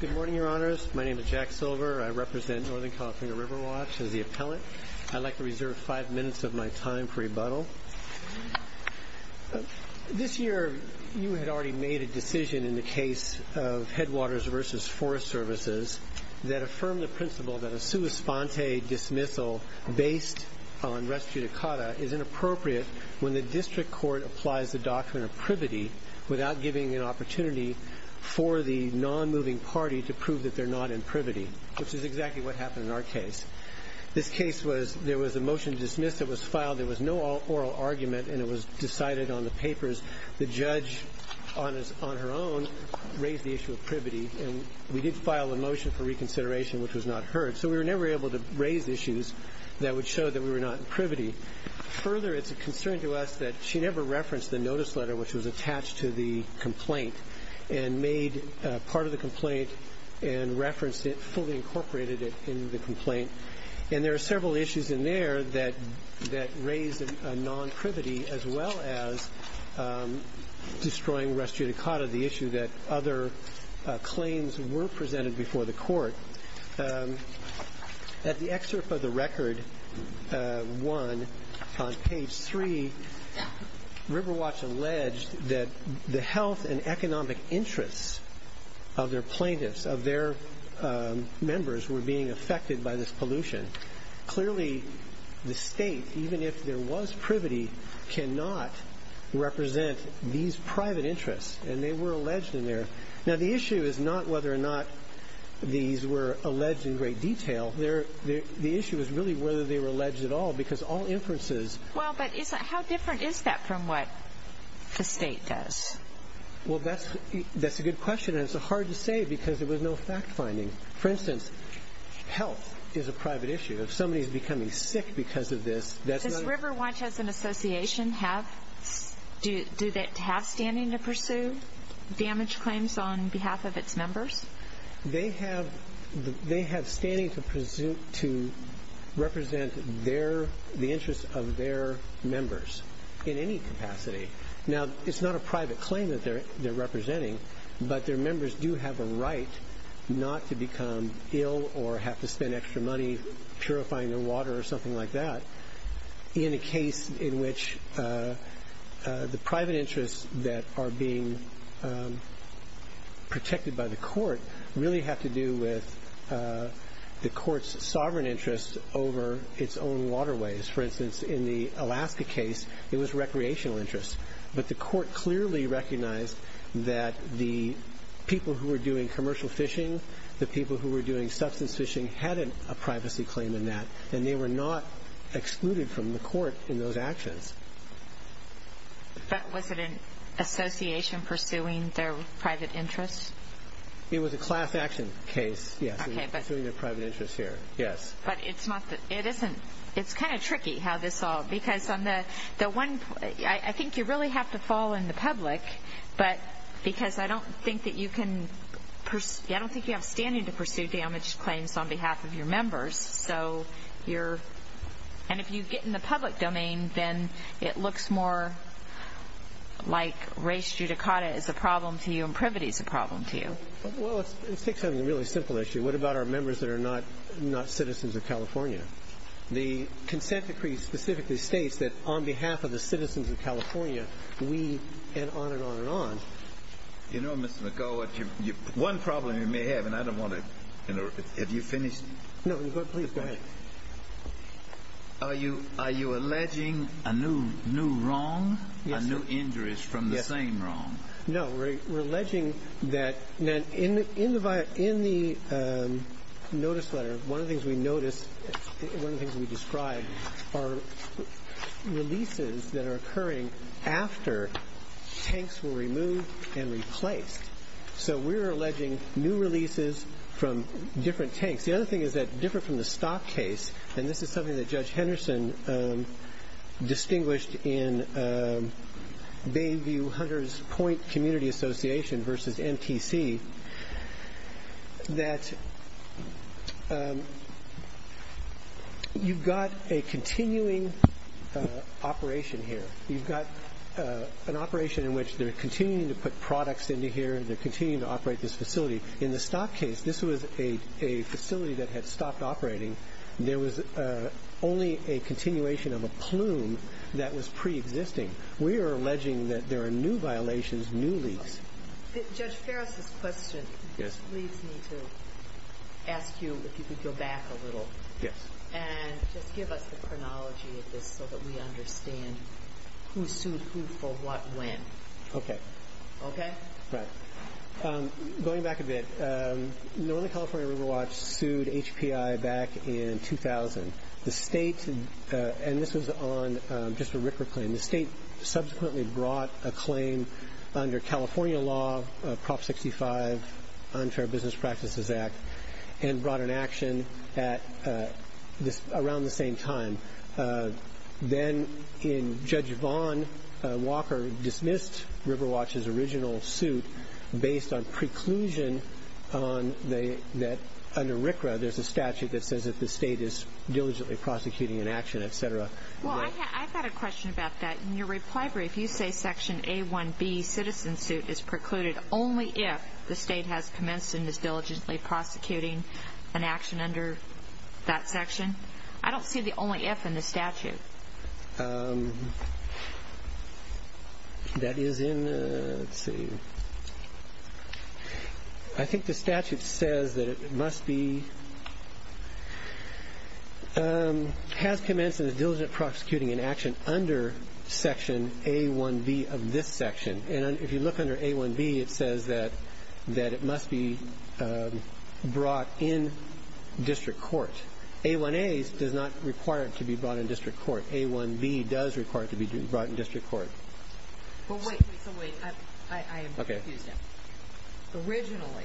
Good morning, Your Honors. My name is Jack Silver. I represent Northern California River Watch as the appellant. I'd like to reserve five minutes of my time for rebuttal. This year, you had already made a decision in the case of Headwaters v. Forest Services that affirmed the principle that a sua sponte dismissal based on res judicata is inappropriate when the district court applies the document of privity without giving an opportunity for the non-moving party to prove that they're not in privity, which is exactly what happened in our case. This case was there was a motion to dismiss that was filed. There was no oral argument, and it was decided on the papers. The judge, on her own, raised the issue of privity, and we did file a motion for reconsideration, which was not heard, so we were never able to raise issues that would show that we were not in privity. Further, it's a concern to us that she never referenced the notice letter, which was attached to the complaint and made part of the complaint and referenced it fully incorporated in the complaint, and there are several issues in there that raise a non-privity as well as destroying res judicata, the issue that other claims were presented before the court. At the excerpt of the record one on page three, Riverwatch alleged that the health and economic interests of their plaintiffs, of their members, were being affected by this pollution. Clearly, the state, even if there was privity, cannot represent these private interests, and they were alleged in there. Now, the issue is not whether or not these were alleged in great detail. The issue is really whether they were alleged at all, because all inferences... Well, but how different is that from what the state does? Well, that's a good question, and it's hard to say because there was no fact-finding. For instance, health is a private issue. If somebody's becoming sick because of this, that's not... Does Riverwatch as an association have standing to pursue damage claims on behalf of its members? They have standing to represent the interests of their members in any capacity. Now, it's not a private claim that they're representing, but their members do have a right not to become ill or have to spend extra money purifying their water or something like that in a case in which the private interests that are being protected by the court really have to do with the court's sovereign interests over its own waterways. For instance, in the Alaska case, it was recreational interests, but the court clearly recognized that the people who were doing commercial fishing, the people who were doing substance fishing, had a privacy claim in that, and they were not excluded from the court in those actions. But was it an association pursuing their private interests? It was a class action case, yes, in pursuing their private interests here, yes. But it's not the... It's kind of tricky how this all... Because on the one... I think you really have to fall in the public, but because I don't think that you can... I don't think you have standing to pursue damaged claims on behalf of your members. So you're... And if you get in the public domain, then it looks more like race judicata is a problem to you and privity is a problem to you. Well, let's take something really simple issue. What about our members that are not citizens of California? And on and on and on. You know, Mr. McCullough, one problem you may have, and I don't want to... Have you finished? No. Please, go ahead. Are you alleging a new wrong, a new injuries from the same wrong? No. We're alleging that in the notice letter, one of the things we notice, one of the things we describe are releases that are occurring after tanks were removed and replaced. So we're alleging new releases from different tanks. The other thing is that different from the stock case, and this is something that Judge Henderson distinguished in Bayview Hunters Point Community Association versus MTC, that you've got a continuing operation here. You've got an operation in which they're continuing to put products into here and they're continuing to operate this facility. In the stock case, this was a facility that had stopped operating. There was only a continuation of a plume that was preexisting. We are alleging that there are new violations, new leaks. Judge Ferris' question leads me to ask you if you could go back a little and just give us the chronology of this so that we understand who sued who for what when. Okay. Okay? Right. Going back a bit, Northern California Riverwatch sued HPI back in 2000. The state, and this was on just a RCRA claim, the state subsequently brought a claim under California law, Prop 65, Unfair Business Practices Act, and brought an action around the same time. Then in Judge Vaughn, Walker dismissed Riverwatch's original suit based on preclusion that under RCRA there's a statute that says that the state is diligently prosecuting an action, et cetera. Well, I've got a question about that. In your reply brief, you say Section A1B, Citizen Suit, is precluded only if the state has commenced and is diligently prosecuting an action under that section. I don't see the only if in the statute. That is in, let's see, I think the statute says that it must be has commenced and is diligently prosecuting an action under Section A1B of this section. And if you look under A1B, it says that it must be brought in district court. A1A does not require it to be brought in district court. A1B does require it to be brought in district court. But wait, wait, wait. I am confused now. Okay. Originally,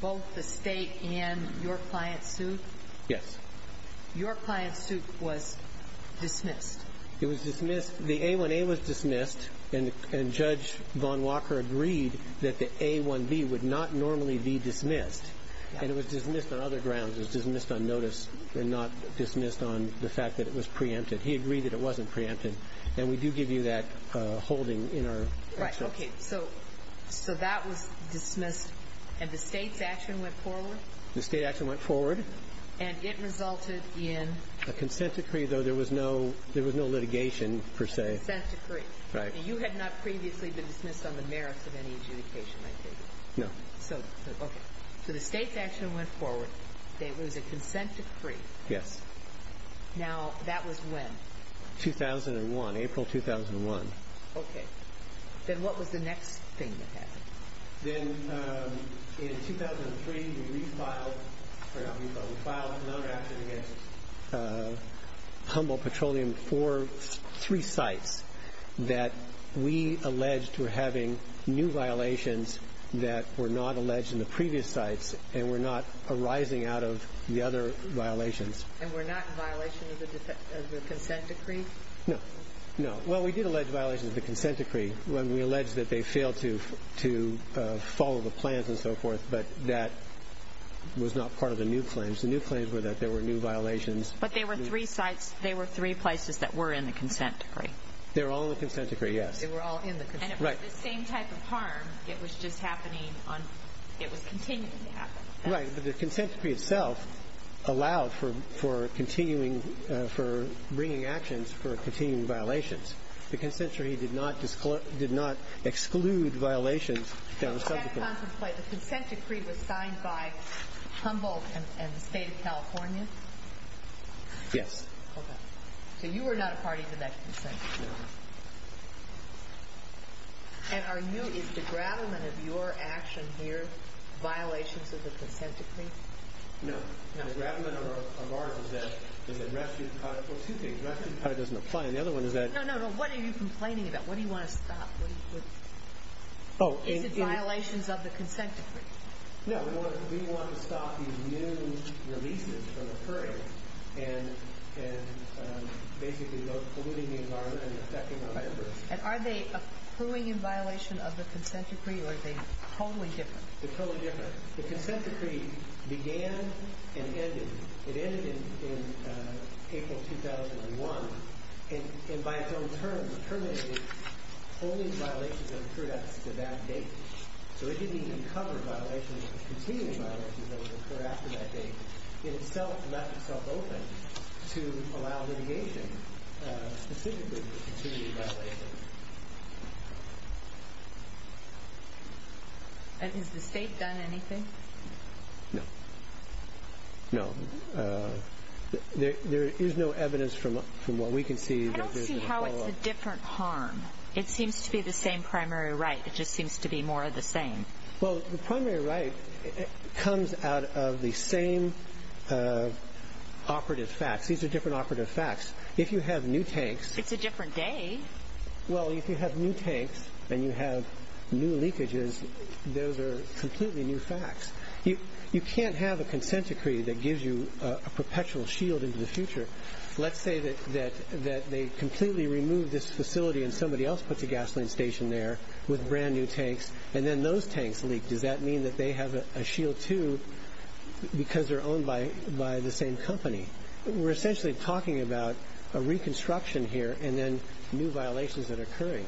both the state and your client sued? Yes. Your client's suit was dismissed. It was dismissed. The A1A was dismissed. And Judge Vaughn Walker agreed that the A1B would not normally be dismissed. And it was dismissed on other grounds. It was dismissed on notice and not dismissed on the fact that it was preempted. He agreed that it wasn't preempted. And we do give you that holding in our actions. Right. Okay. So that was dismissed, and the state's action went forward? The state action went forward. And it resulted in? A consent decree, though there was no litigation per se. A consent decree. Right. You had not previously been dismissed on the merits of any adjudication, I take it? No. Okay. So the state's action went forward. It was a consent decree. Yes. 2001, April 2001. Okay. Then what was the next thing that happened? Then in 2003, we filed another action against Humboldt Petroleum for three sites that we alleged were having new violations that were not alleged in the previous sites and were not arising out of the other violations. And were not in violation of the consent decree? No. No. Well, we did allege violations of the consent decree when we alleged that they failed to follow the plans and so forth, but that was not part of the new claims. The new claims were that there were new violations. But they were three sites. They were three places that were in the consent decree. They were all in the consent decree, yes. They were all in the consent decree. Right. And it was the same type of harm. It was just happening on ñ it was continuing to happen. Right. But the consent decree itself allowed for continuing ñ for bringing actions for continuing violations. The consent decree did not exclude violations that were subsequent. Can I contemplate? The consent decree was signed by Humboldt and the State of California? Yes. Okay. So you were not a party to that consent decree. No. And are you ñ is the grattlement of your action here violations of the consent decree? No. No. The grattlement of ours is that rescue ñ well, two things. Rescue doesnít apply. And the other one is that ñ No, no, no. What are you complaining about? What do you want to stop? What are you ñ Oh, in ñ Is it violations of the consent decree? No. We want to stop these new releases from occurring and basically polluting the environment and affecting our neighbors. And are they accruing in violation of the consent decree, or are they totally different? Theyíre totally different. The consent decree began and ended ñ it ended in April 2001, and by its own term, terminated only violations that occurred after that date. So it didnít even cover violations ñ continuing violations that occurred after that date. It itself left itself open to allow litigation specifically to continue violations. Has the state done anything? No. No. There is no evidence from what we can see that thereís a follow-up. I donít see how itís a different harm. It seems to be the same primary right. It just seems to be more of the same. Well, the primary right comes out of the same operative facts. These are different operative facts. If you have new tanks ñ Itís a different day. Well, if you have new tanks and you have new leakages, those are completely new facts. You canít have a consent decree that gives you a perpetual shield into the future. Letís say that they completely remove this facility and somebody else puts a gasoline station there with brand-new tanks, and then those tanks leak. Does that mean that they have a shield, too, because theyíre owned by the same company? Weíre essentially talking about a reconstruction here and then new violations that are occurring.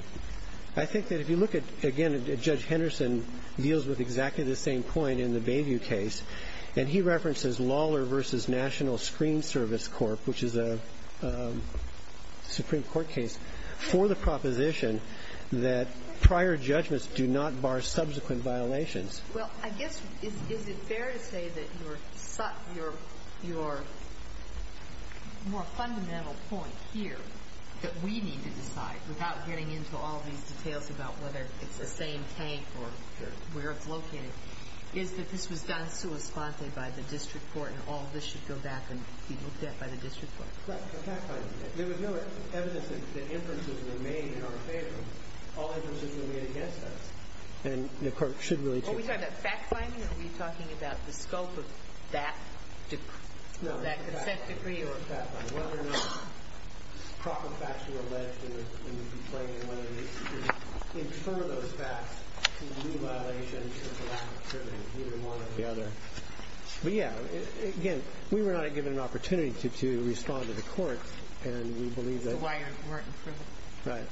I think that if you look at ñ again, Judge Henderson deals with exactly the same point in the Bayview case, and he references Lawler v. National Screen Service Corp., which is a Supreme Court case, for the proposition that prior judgments do not bar subsequent violations. Well, I guess is it fair to say that your more fundamental point here that we need to decide, without getting into all these details about whether itís the same tank or where itís located, is that this was done sui sponte by the district court and all this should go back and be looked at by the district court? There was no evidence that inferences were made in our favor. All inferences were made against us. And the court should really change that. Are we talking about fact-finding or are we talking about the scope of that consent decree or fact-finding, whether or not proper facts were alleged in the complaint and whether we should infer those facts to new violations or to lack of scrutiny, either one or the other. But, yeah, again, we were not given an opportunity to respond to the court, and we believe tható So why werenít you present? Right.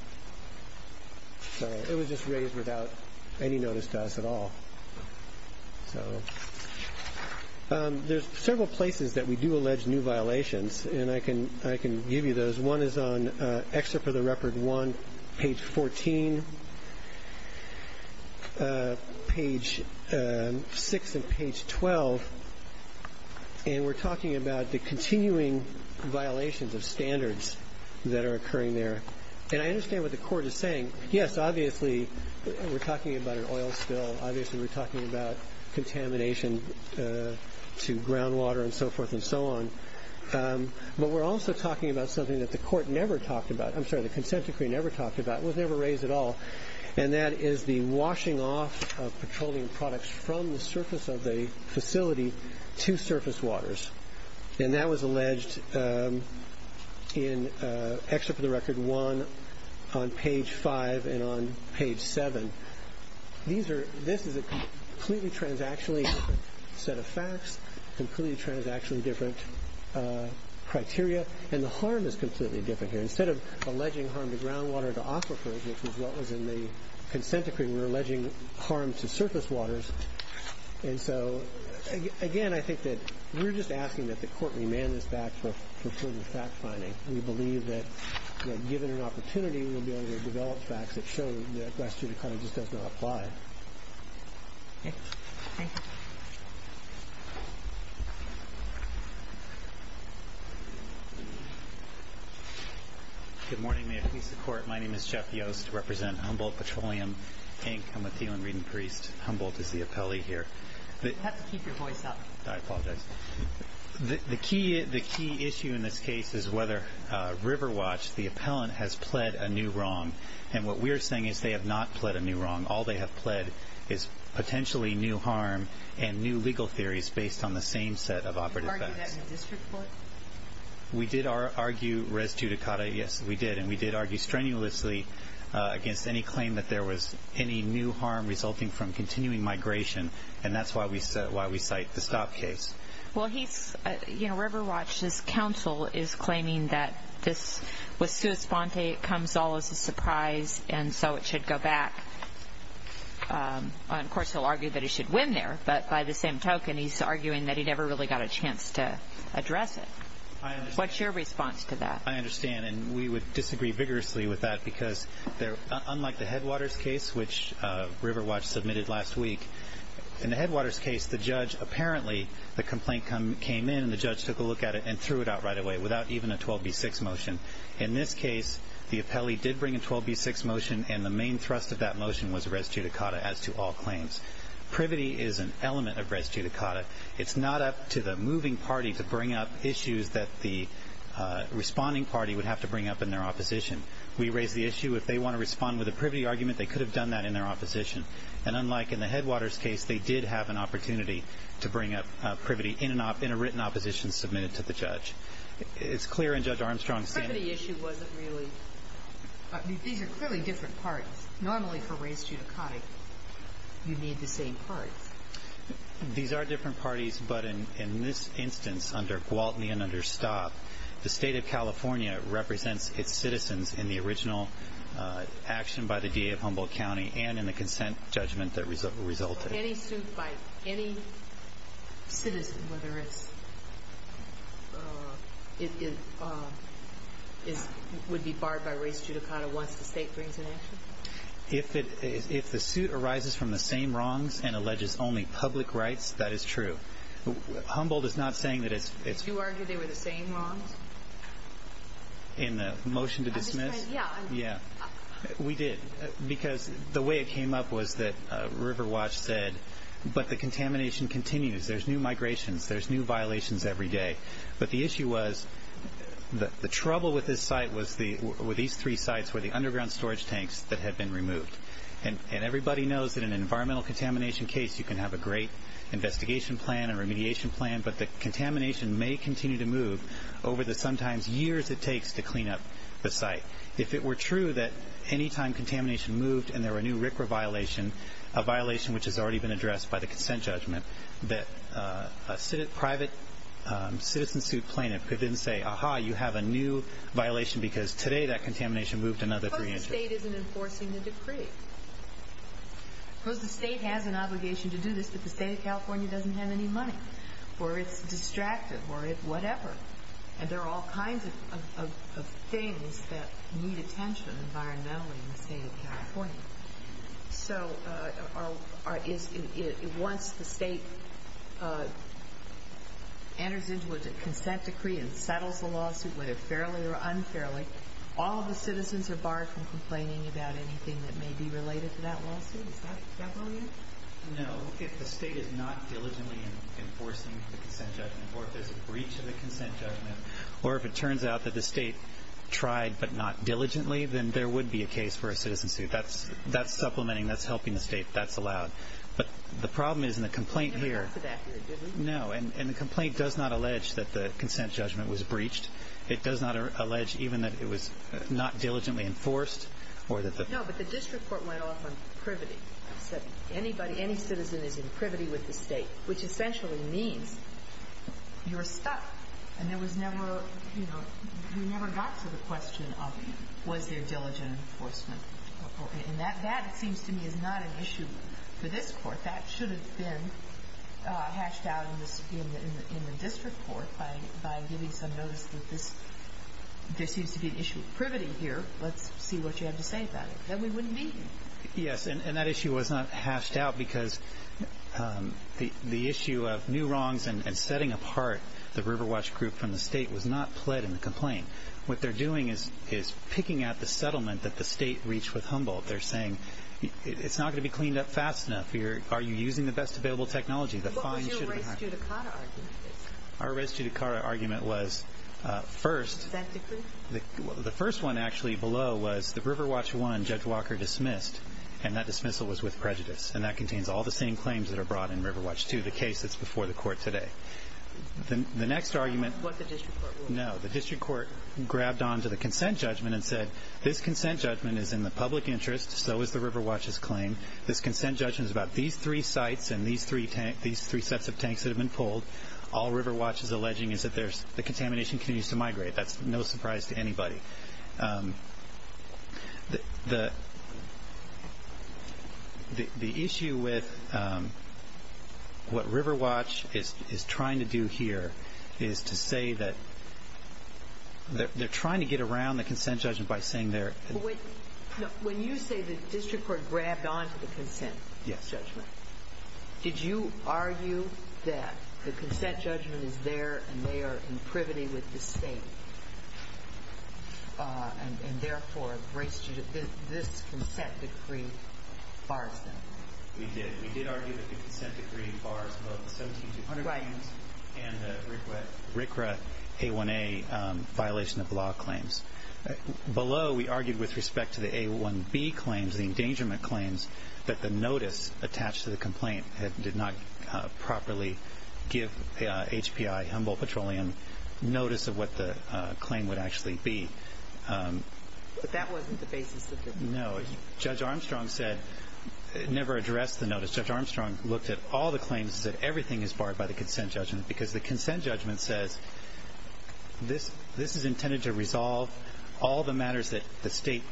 So it was just raised without any notice to us at all. Thereís several places that we do allege new violations, and I can give you those. One is on Excerpt of the Record 1, page 14, page 6 and page 12, and weíre talking about the continuing violations of standards that are occurring there. And I understand what the court is saying. Yes, obviously weíre talking about an oil spill. Obviously weíre talking about contamination to groundwater and so forth and so on. But weíre also talking about something that the court never talked aboutó Iím sorry, the consent decree never talked about, was never raised at all, and that is the washing off of petroleum products from the surface of the facility to surface waters. And that was alleged in Excerpt of the Record 1 on page 5 and on page 7. This is a completely transactionally different set of facts, completely transactionally different criteria, and the harm is completely different here. Instead of alleging harm to groundwater and to aquifers, which was what was in the consent decree, weíre alleging harm to surface waters. And so, again, I think that weíre just asking that the court remand this back for further fact-finding. We believe that, given an opportunity, weíll be able to develop facts that show that that question kind of just does not apply. Okay. Thank you. Good morning. May it please the Court, my name is Jeff Yost. I represent Humboldt Petroleum, Inc. Iím a Thielen reading priest. Humboldt is the appellee here. You have to keep your voice up. I apologize. The key issue in this case is whether Riverwatch, the appellant, has pled a new wrong. And what weíre saying is they have not pled a new wrong. All they have pled is potentially new harm and new legal theories based on the same set of operative facts. Did you argue that in the district court? We did argue res judicata, yes, we did. And we did argue strenuously against any claim that there was any new harm resulting from continuing migration. And thatís why we cite the stop case. Well, heís, you know, Riverwatchís counsel is claiming that this was sua sponte, it comes all as a surprise, and so it should go back. Of course, heíll argue that he should win there, but by the same token, heís arguing that he never really got a chance to address it. Whatís your response to that? I understand, and we would disagree vigorously with that, because unlike the Headwaters case, which Riverwatch submitted last week, in the Headwaters case, the judge, apparently, the complaint came in, and the judge took a look at it and threw it out right away without even a 12B6 motion. In this case, the appellee did bring a 12B6 motion, and the main thrust of that motion was res judicata as to all claims. Privity is an element of res judicata. Itís not up to the moving party to bring up issues that the responding party would have to bring up in their opposition. We raised the issue, if they want to respond with a privity argument, they could have done that in their opposition. And unlike in the Headwaters case, they did have an opportunity to bring up privity in a written opposition submitted to the judge. Itís clear in Judge Armstrongís standó The privity issue wasnít reallyóI mean, these are clearly different parties. Normally, for res judicata, you need the same parties. These are different parties, but in this instance, under Gwaltney and under Staub, the State of California represents its citizens in the original action by the DA of Humboldt County and in the consent judgment that resulted. So any suit by any citizen, whether itísówould be barred by res judicata once the State brings an action? If the suit arises from the same wrongs and alleges only public rights, that is true. Humboldt is not saying that itísó Did you argue they were the same wrongs? In the motion to dismiss? Yeah. Yeah. We did, because the way it came up was that Riverwatch said, but the contamination continues. Thereís new migrations. Thereís new violations every day. But the issue wasóthe trouble with this site was these three sites were the underground storage tanks that had been removed. And everybody knows that in an environmental contamination case, you can have a great investigation plan, a remediation plan, but the contamination may continue to move over the sometimes years it takes to clean up the site. If it were true that any time contamination moved and there were a new RCRA violation, a violation which has already been addressed by the consent judgment, that a private citizen suit plaintiff could then say, ìAha, you have a new violation because today that contamination moved another three inches.î Of course the State isnít enforcing the decree. Of course the State has an obligation to do this, but the State of California doesnít have any money, or itís distracted, or whatever. And there are all kinds of things that need attention environmentally in the State of California. So once the State enters into a consent decree and settles the lawsuit, whether fairly or unfairly, all of the citizens are barred from complaining about anything that may be related to that lawsuit? Is that relevant? No. If the State is not diligently enforcing the consent judgment, or if thereís a breach of the consent judgment, or if it turns out that the State tried but not diligently, then there would be a case for a citizen suit. Thatís supplementing, thatís helping the State. Thatís allowed. But the problem is in the complaint hereó We never got to that here, did we? No. And the complaint does not allege that the consent judgment was breached. It does not allege even that it was not diligently enforced, or that theó No, but the district court went off on privity. It said anybody, any citizen is in privity with the State, which essentially means youíre stuck. And there was never, you know, we never got to the question of was there diligent enforcement. And that, it seems to me, is not an issue for this Court. That should have been hashed out in the district court by giving some notice that thisó there seems to be an issue of privity here. Letís see what you have to say about it. Then we wouldnít be here. Yes, and that issue was not hashed out because the issue of new wrongs and setting apart the Riverwatch group from the State was not pled in the complaint. What theyíre doing is picking at the settlement that the State reached with Humboldt. Theyíre saying itís not going to be cleaned up fast enough. Are you using the best available technology? What was your res judicata argument? Our res judicata argument was firstó Does that decree? The first one actually below was the Riverwatch 1 Judge Walker dismissed, and that dismissal was with prejudice. And that contains all the same claims that are brought in Riverwatch 2, the case thatís before the Court today. The next argumentó Was the district court wrong? No. The district court grabbed on to the consent judgment and said, ìThis consent judgment is in the public interest.î ìSo is the Riverwatchís claim.î ìThis consent judgment is about these three sites and these three sets of tanks that have been pulled.î ìAll Riverwatch is alleging is that the contamination continues to migrate.î Thatís no surprise to anybody. The issue with what Riverwatch is trying to do here is to say that theyíre trying to get around the consent judgment by saying theyíreó When you say the district court grabbed on to the consent judgment, did you argue that the consent judgment is there and they are in privity with the state, and therefore this consent decree bars them? We did. We did argue that the consent decree bars both the 17200 claimsó Right. And the RCRA A1A violation of law claims. Below we argued with respect to the A1B claims, the endangerment claims, that the notice attached to the complaint did not properly give HPI, Humboldt Petroleum, notice of what the claim would actually be. But that wasnít the basis of the decision. No. Judge Armstrong saidónever addressed the notice. Judge Armstrong looked at all the claims and said everything is barred by the consent judgment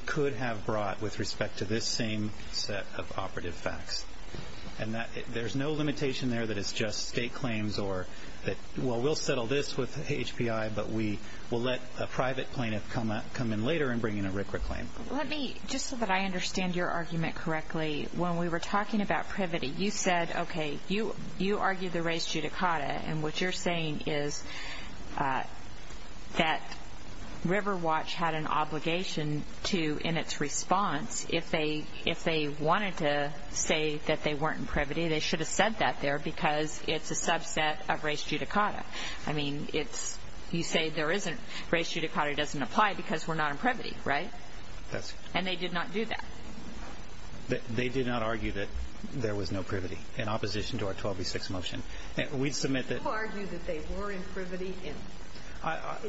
could have brought with respect to this same set of operative facts. And thereís no limitation there that itís just state claims oró Well, weíll settle this with HPI, but we will let a private plaintiff come in later and bring in a RCRA claim. Let meójust so that I understand your argument correctly, when we were talking about privity, you said, okay, you argued the res judicata, and what youíre saying is that Riverwatch had an obligation toóin its response, if they wanted to say that they werenít in privity, they should have said that there because itís a subset of res judicata. I mean, itísóyou say there isnítóres judicata doesnít apply because weíre not in privity, right? Thatísó And they did not do that. They did not argue that there was no privity in opposition to our 1206 motion. We submit tható You argued that they were in privity, and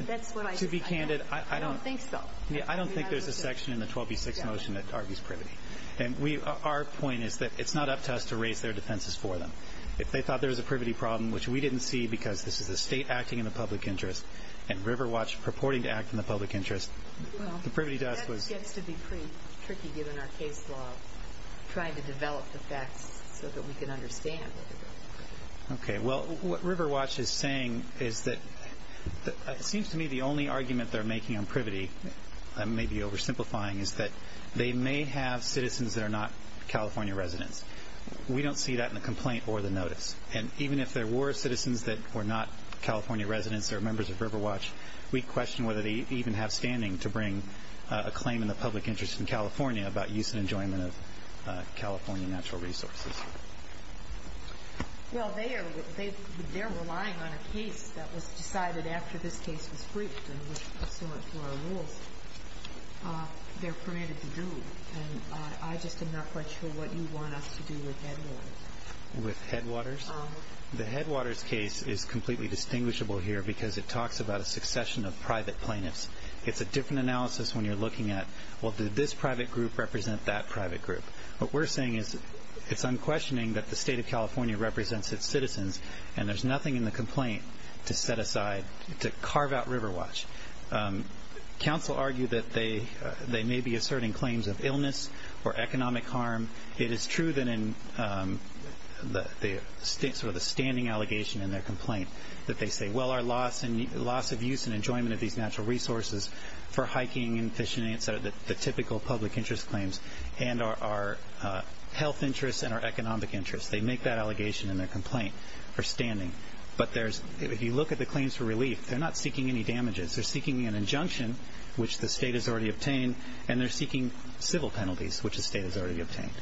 thatís what I said. To be candid, I donító I donít think so. I donít think thereís a section in the 1206 motion that argues privity. And weóour point is that itís not up to us to raise their defenses for them. If they thought there was a privity problem, which we didnít see because this is a state acting in the public interest, and Riverwatch purporting to act in the public interest, the privity doesó Okay. Well, what Riverwatch is saying is tható It seems to me the only argument theyíre making on privityóI may be oversimplifyingó is that they may have citizens that are not California residents. We donít see that in the complaint or the notice. And even if there were citizens that were not California residents or members of Riverwatch, we question whether they even have standing to bring a claim in the public interest in California about use and enjoyment of California natural resources. Well, they areótheyíre relying on a case that was decided after this case was briefed and was pursuant to our rules. Theyíre permitted to do. And I just am not quite sure what you want us to do with Headwaters. With Headwaters? Uh-huh. The Headwaters case is completely distinguishable here because it talks about a succession of private plaintiffs. Itís a different analysis when youíre looking at, well, did this private group represent that private group? What weíre saying is itís unquestioning that the state of California represents its citizens, and thereís nothing in the complaint to set asideóto carve out Riverwatch. Counsel argue that they may be asserting claims of illness or economic harm. It is true that in the standing allegation in their complaint that they say, ìWell, our loss of use and enjoyment of these natural resources for hiking and fishing and the typical public interest claims and our health interests and our economic interests.î They make that allegation in their complaint for standing. But thereísóif you look at the claims for relief, theyíre not seeking any damages. Theyíre seeking an injunction, which the state has already obtained, and theyíre seeking civil penalties, which the state has already obtained.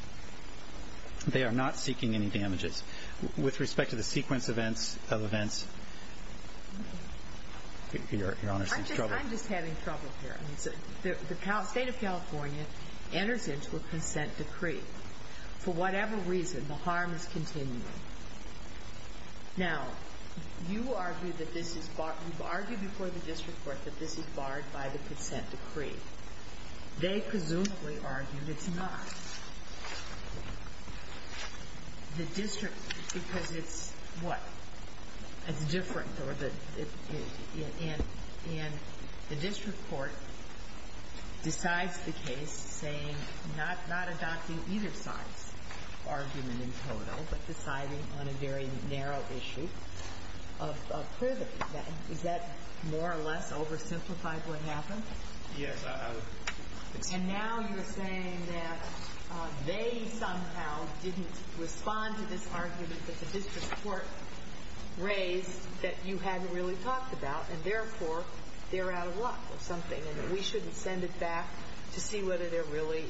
They are not seeking any damages. With respect to the sequence of eventsóYour Honor seems troubled. Iím just having trouble here. The state of California enters into a consent decree. For whatever reason, the harm is continuing. Now, you argue that this isóyouíve argued before the district court that this is barred by the consent decree. They presumably argue itís not. The districtóbecause itísówhat? Itís different, or theóand the district court decides the case, saying not adopting either sideís argument in total, but deciding on a very narrow issue of privilege. Is that more or less oversimplified what happened? Yes. And now youíre saying that they somehow didnít respond to this argument that the district court raised that you hadnít really talked about, and therefore theyíre out of luck with something, and that we shouldnít send it back to see whether there really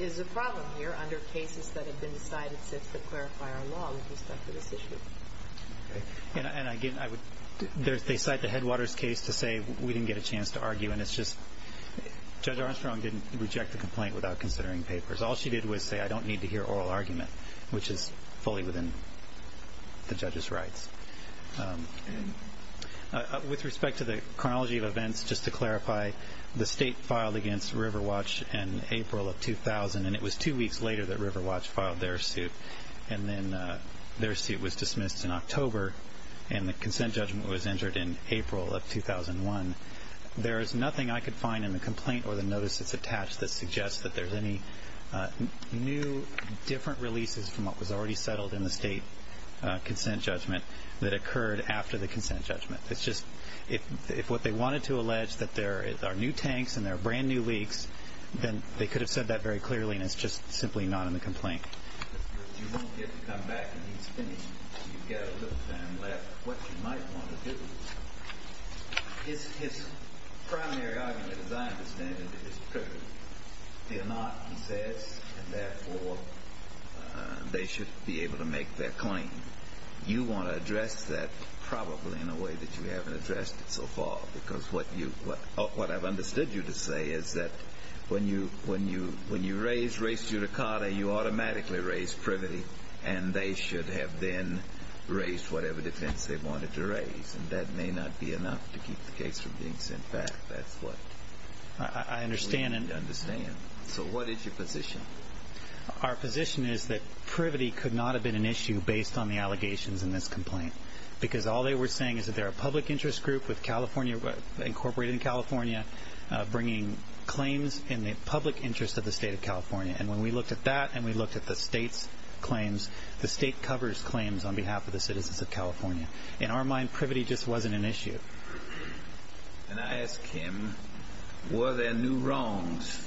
is a problem here under cases that have been decided since the clarifier law with respect to this issue. Okay. And again, I wouldóthey cite the Headwaters case to say we didnít get a chance to argue, and itís justóJudge Armstrong didnít reject the complaint without considering papers. All she did was say, ìI donít need to hear oral argument,î which is fully within the judgeís rights. With respect to the chronology of events, just to clarify, the state filed against Riverwatch in April of 2000, and it was two weeks later that Riverwatch filed their suit, and then their suit was dismissed in October, and the consent judgment was entered in April of 2001. There is nothing I could find in the complaint or the notice thatís attached that suggests that thereís any new, different releases from what was already settled in the state consent judgment that occurred after the consent judgment. Itís justóif what they wanted to allege that there are new tanks and there are brand-new leaks, then they could have said that very clearly, and itís just simply not in the complaint. You wonít get to come back and eat spinach until youíve got a little time left. What you might want to doóhis primary argument, as I understand it, is privilege. ìFear not,î he says, ìand therefore they should be able to make their claim.î You want to address that probably in a way that you havenít addressed it so far, because what youówhat Iíve understood you to say is that when you raise race judicata, you automatically raise privity, and they should have then raised whatever defense they wanted to raise, and that may not be enough to keep the case from being sent back. Thatís what we need to understand. I understand. So what is your position? Our position is that privity could not have been an issue based on the allegations in this complaint, because all they were saying is that theyíre a public interest group with Californiaó and when we looked at that and we looked at the stateís claims, the state covers claims on behalf of the citizens of California. In our mind, privity just wasnít an issue. And I ask him, ìWere there new wrongs,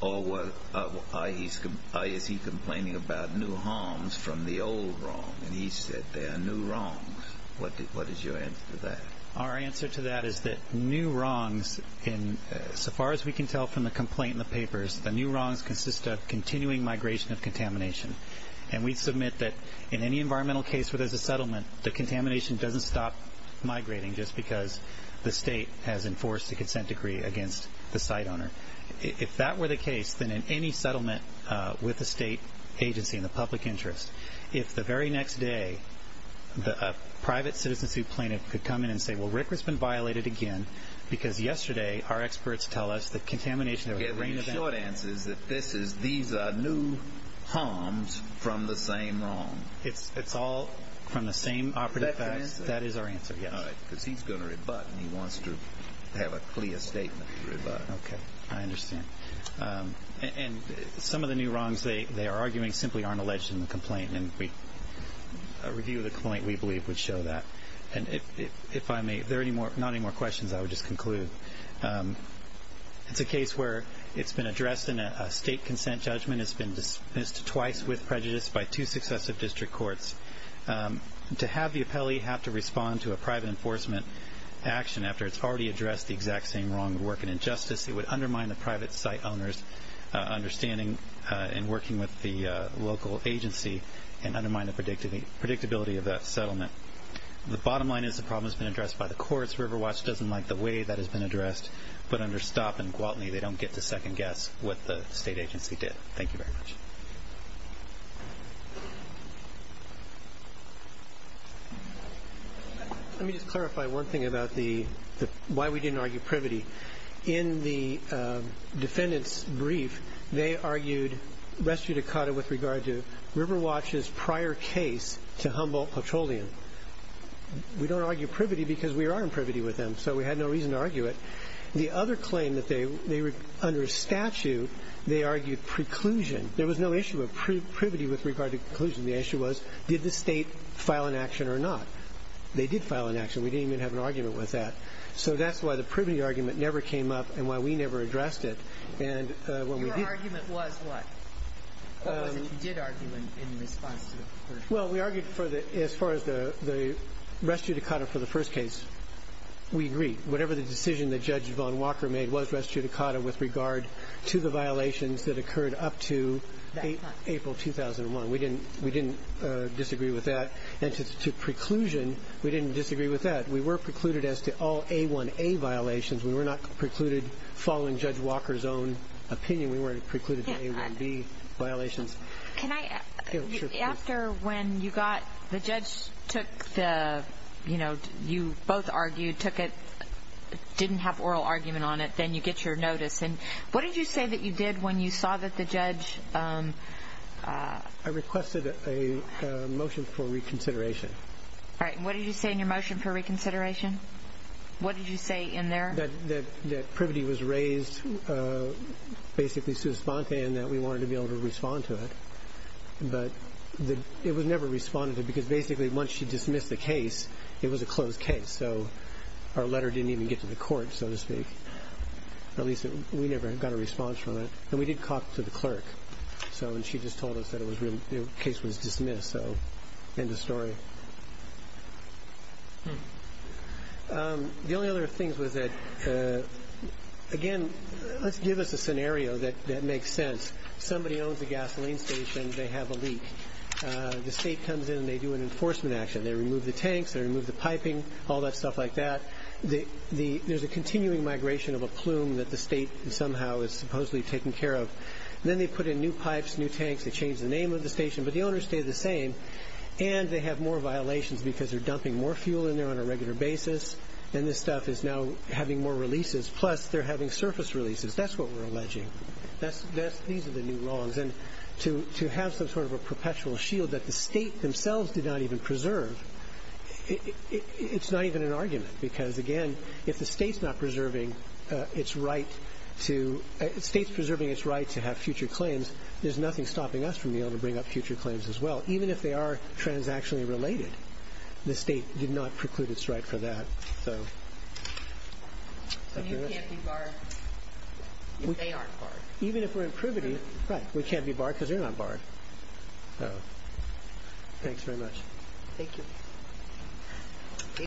or is he complaining about new harms from the old wrong?î And he said, ìThere are new wrongs.î What is your answer to that? Our answer to that is that new wrongsóso far as we can tell from the complaint in the papers, the new wrongs consist of continuing migration of contamination. And we submit that in any environmental case where thereís a settlement, the contamination doesnít stop migrating just because the state has enforced a consent decree against the site owner. If that were the case, then in any settlement with a state agency in the public interest, if the very next day a private citizenship plaintiff could come in and say, ìWell, Rick has been violated again because yesterday our experts tell us that contaminationóî My short answer is that this isóthese are new harms from the same wrong. Itís all from the same operative facts. Is that your answer? That is our answer, yes. All right, because heís going to rebut, and he wants to have a clear statement to rebut. Okay, I understand. And some of the new wrongs they are arguing simply arenít alleged in the complaint, and a review of the complaint, we believe, would show that. And if I mayóif there are not any more questions, I would just conclude. Itís a case where itís been addressed in a state consent judgment. Itís been dismissed twice with prejudice by two successive district courts. To have the appellee have to respond to a private enforcement action after itís already addressed the exact same wrong would work an injustice. It would undermine the private site ownerís understanding in working with the local agency and undermine the predictability of that settlement. The bottom line is the problem has been addressed by the courts. Riverwatch doesnít like the way that has been addressed, but under Stopp and Gwaltney they donít get to second-guess what the state agency did. Thank you very much. Let me just clarify one thing about why we didnít argue privity. In the defendantís brief, they argued res judicata with regard to Riverwatchís prior case to Humboldt Petroleum. We donít argue privity because we are in privity with them, so we had no reason to argue it. The other claim that theyóunder statute, they argued preclusion. There was no issue of privity with regard to preclusion. The issue was did the state file an action or not. They did file an action. We didnít even have an argument with that. So thatís why the privity argument never came up and why we never addressed it. And when we didó Or was it you did argue in response to the first case? Well, we argued for theóas far as the res judicata for the first case, we agreed. Whatever the decision that Judge Vaughn Walker made was res judicata with regard to the violations that occurred up to April 2001. We didnít disagree with that. And to preclusion, we didnít disagree with that. We were precluded as to all A1A violations. We were not precluded following Judge Walkerís own opinion. We werenít precluded to A1B violations. Can Ió Sure, go ahead. After when you gotóthe judge took theóyou know, you both argued, took it, didnít have oral argument on it, then you get your notice. And what did you say that you did when you saw that the judgeó I requested a motion for reconsideration. All right. And what did you say in your motion for reconsideration? What did you say in there? That privity was raised basically sui sponte and that we wanted to be able to respond to it. But it was never responded to because basically once she dismissed the case, it was a closed case. So our letter didnít even get to the court, so to speak. At least we never got a response from it. And we did talk to the clerk. Soóand she just told us that it was reallyóthe case was dismissed. So end of story. The only other things was thatóagain, letís give us a scenario that makes sense. Somebody owns a gasoline station. They have a leak. The state comes in and they do an enforcement action. They remove the tanks. They remove the piping, all that stuff like that. Thereís a continuing migration of a plume that the state somehow is supposedly taking care of. Then they put in new pipes, new tanks. They change the name of the station. But the owners stay the same. And they have more violations because theyíre dumping more fuel in there on a regular basis. And this stuff is now having more releases. Plus, theyíre having surface releases. Thatís what weíre alleging. These are the new wrongs. And to have some sort of a perpetual shield that the state themselves did not even preserveóitís not even an argument. Because, again, if the stateís preserving its right to have future claims, thereís nothing stopping us from being able to bring up future claims as well. Even if they are transactionally related, the state did not preclude its right for that. Soó And you canít be barred if they arenít barred. Even if weíre improvingó Right. We canít be barred because theyíre not barred. So, thanks very much. Thank you.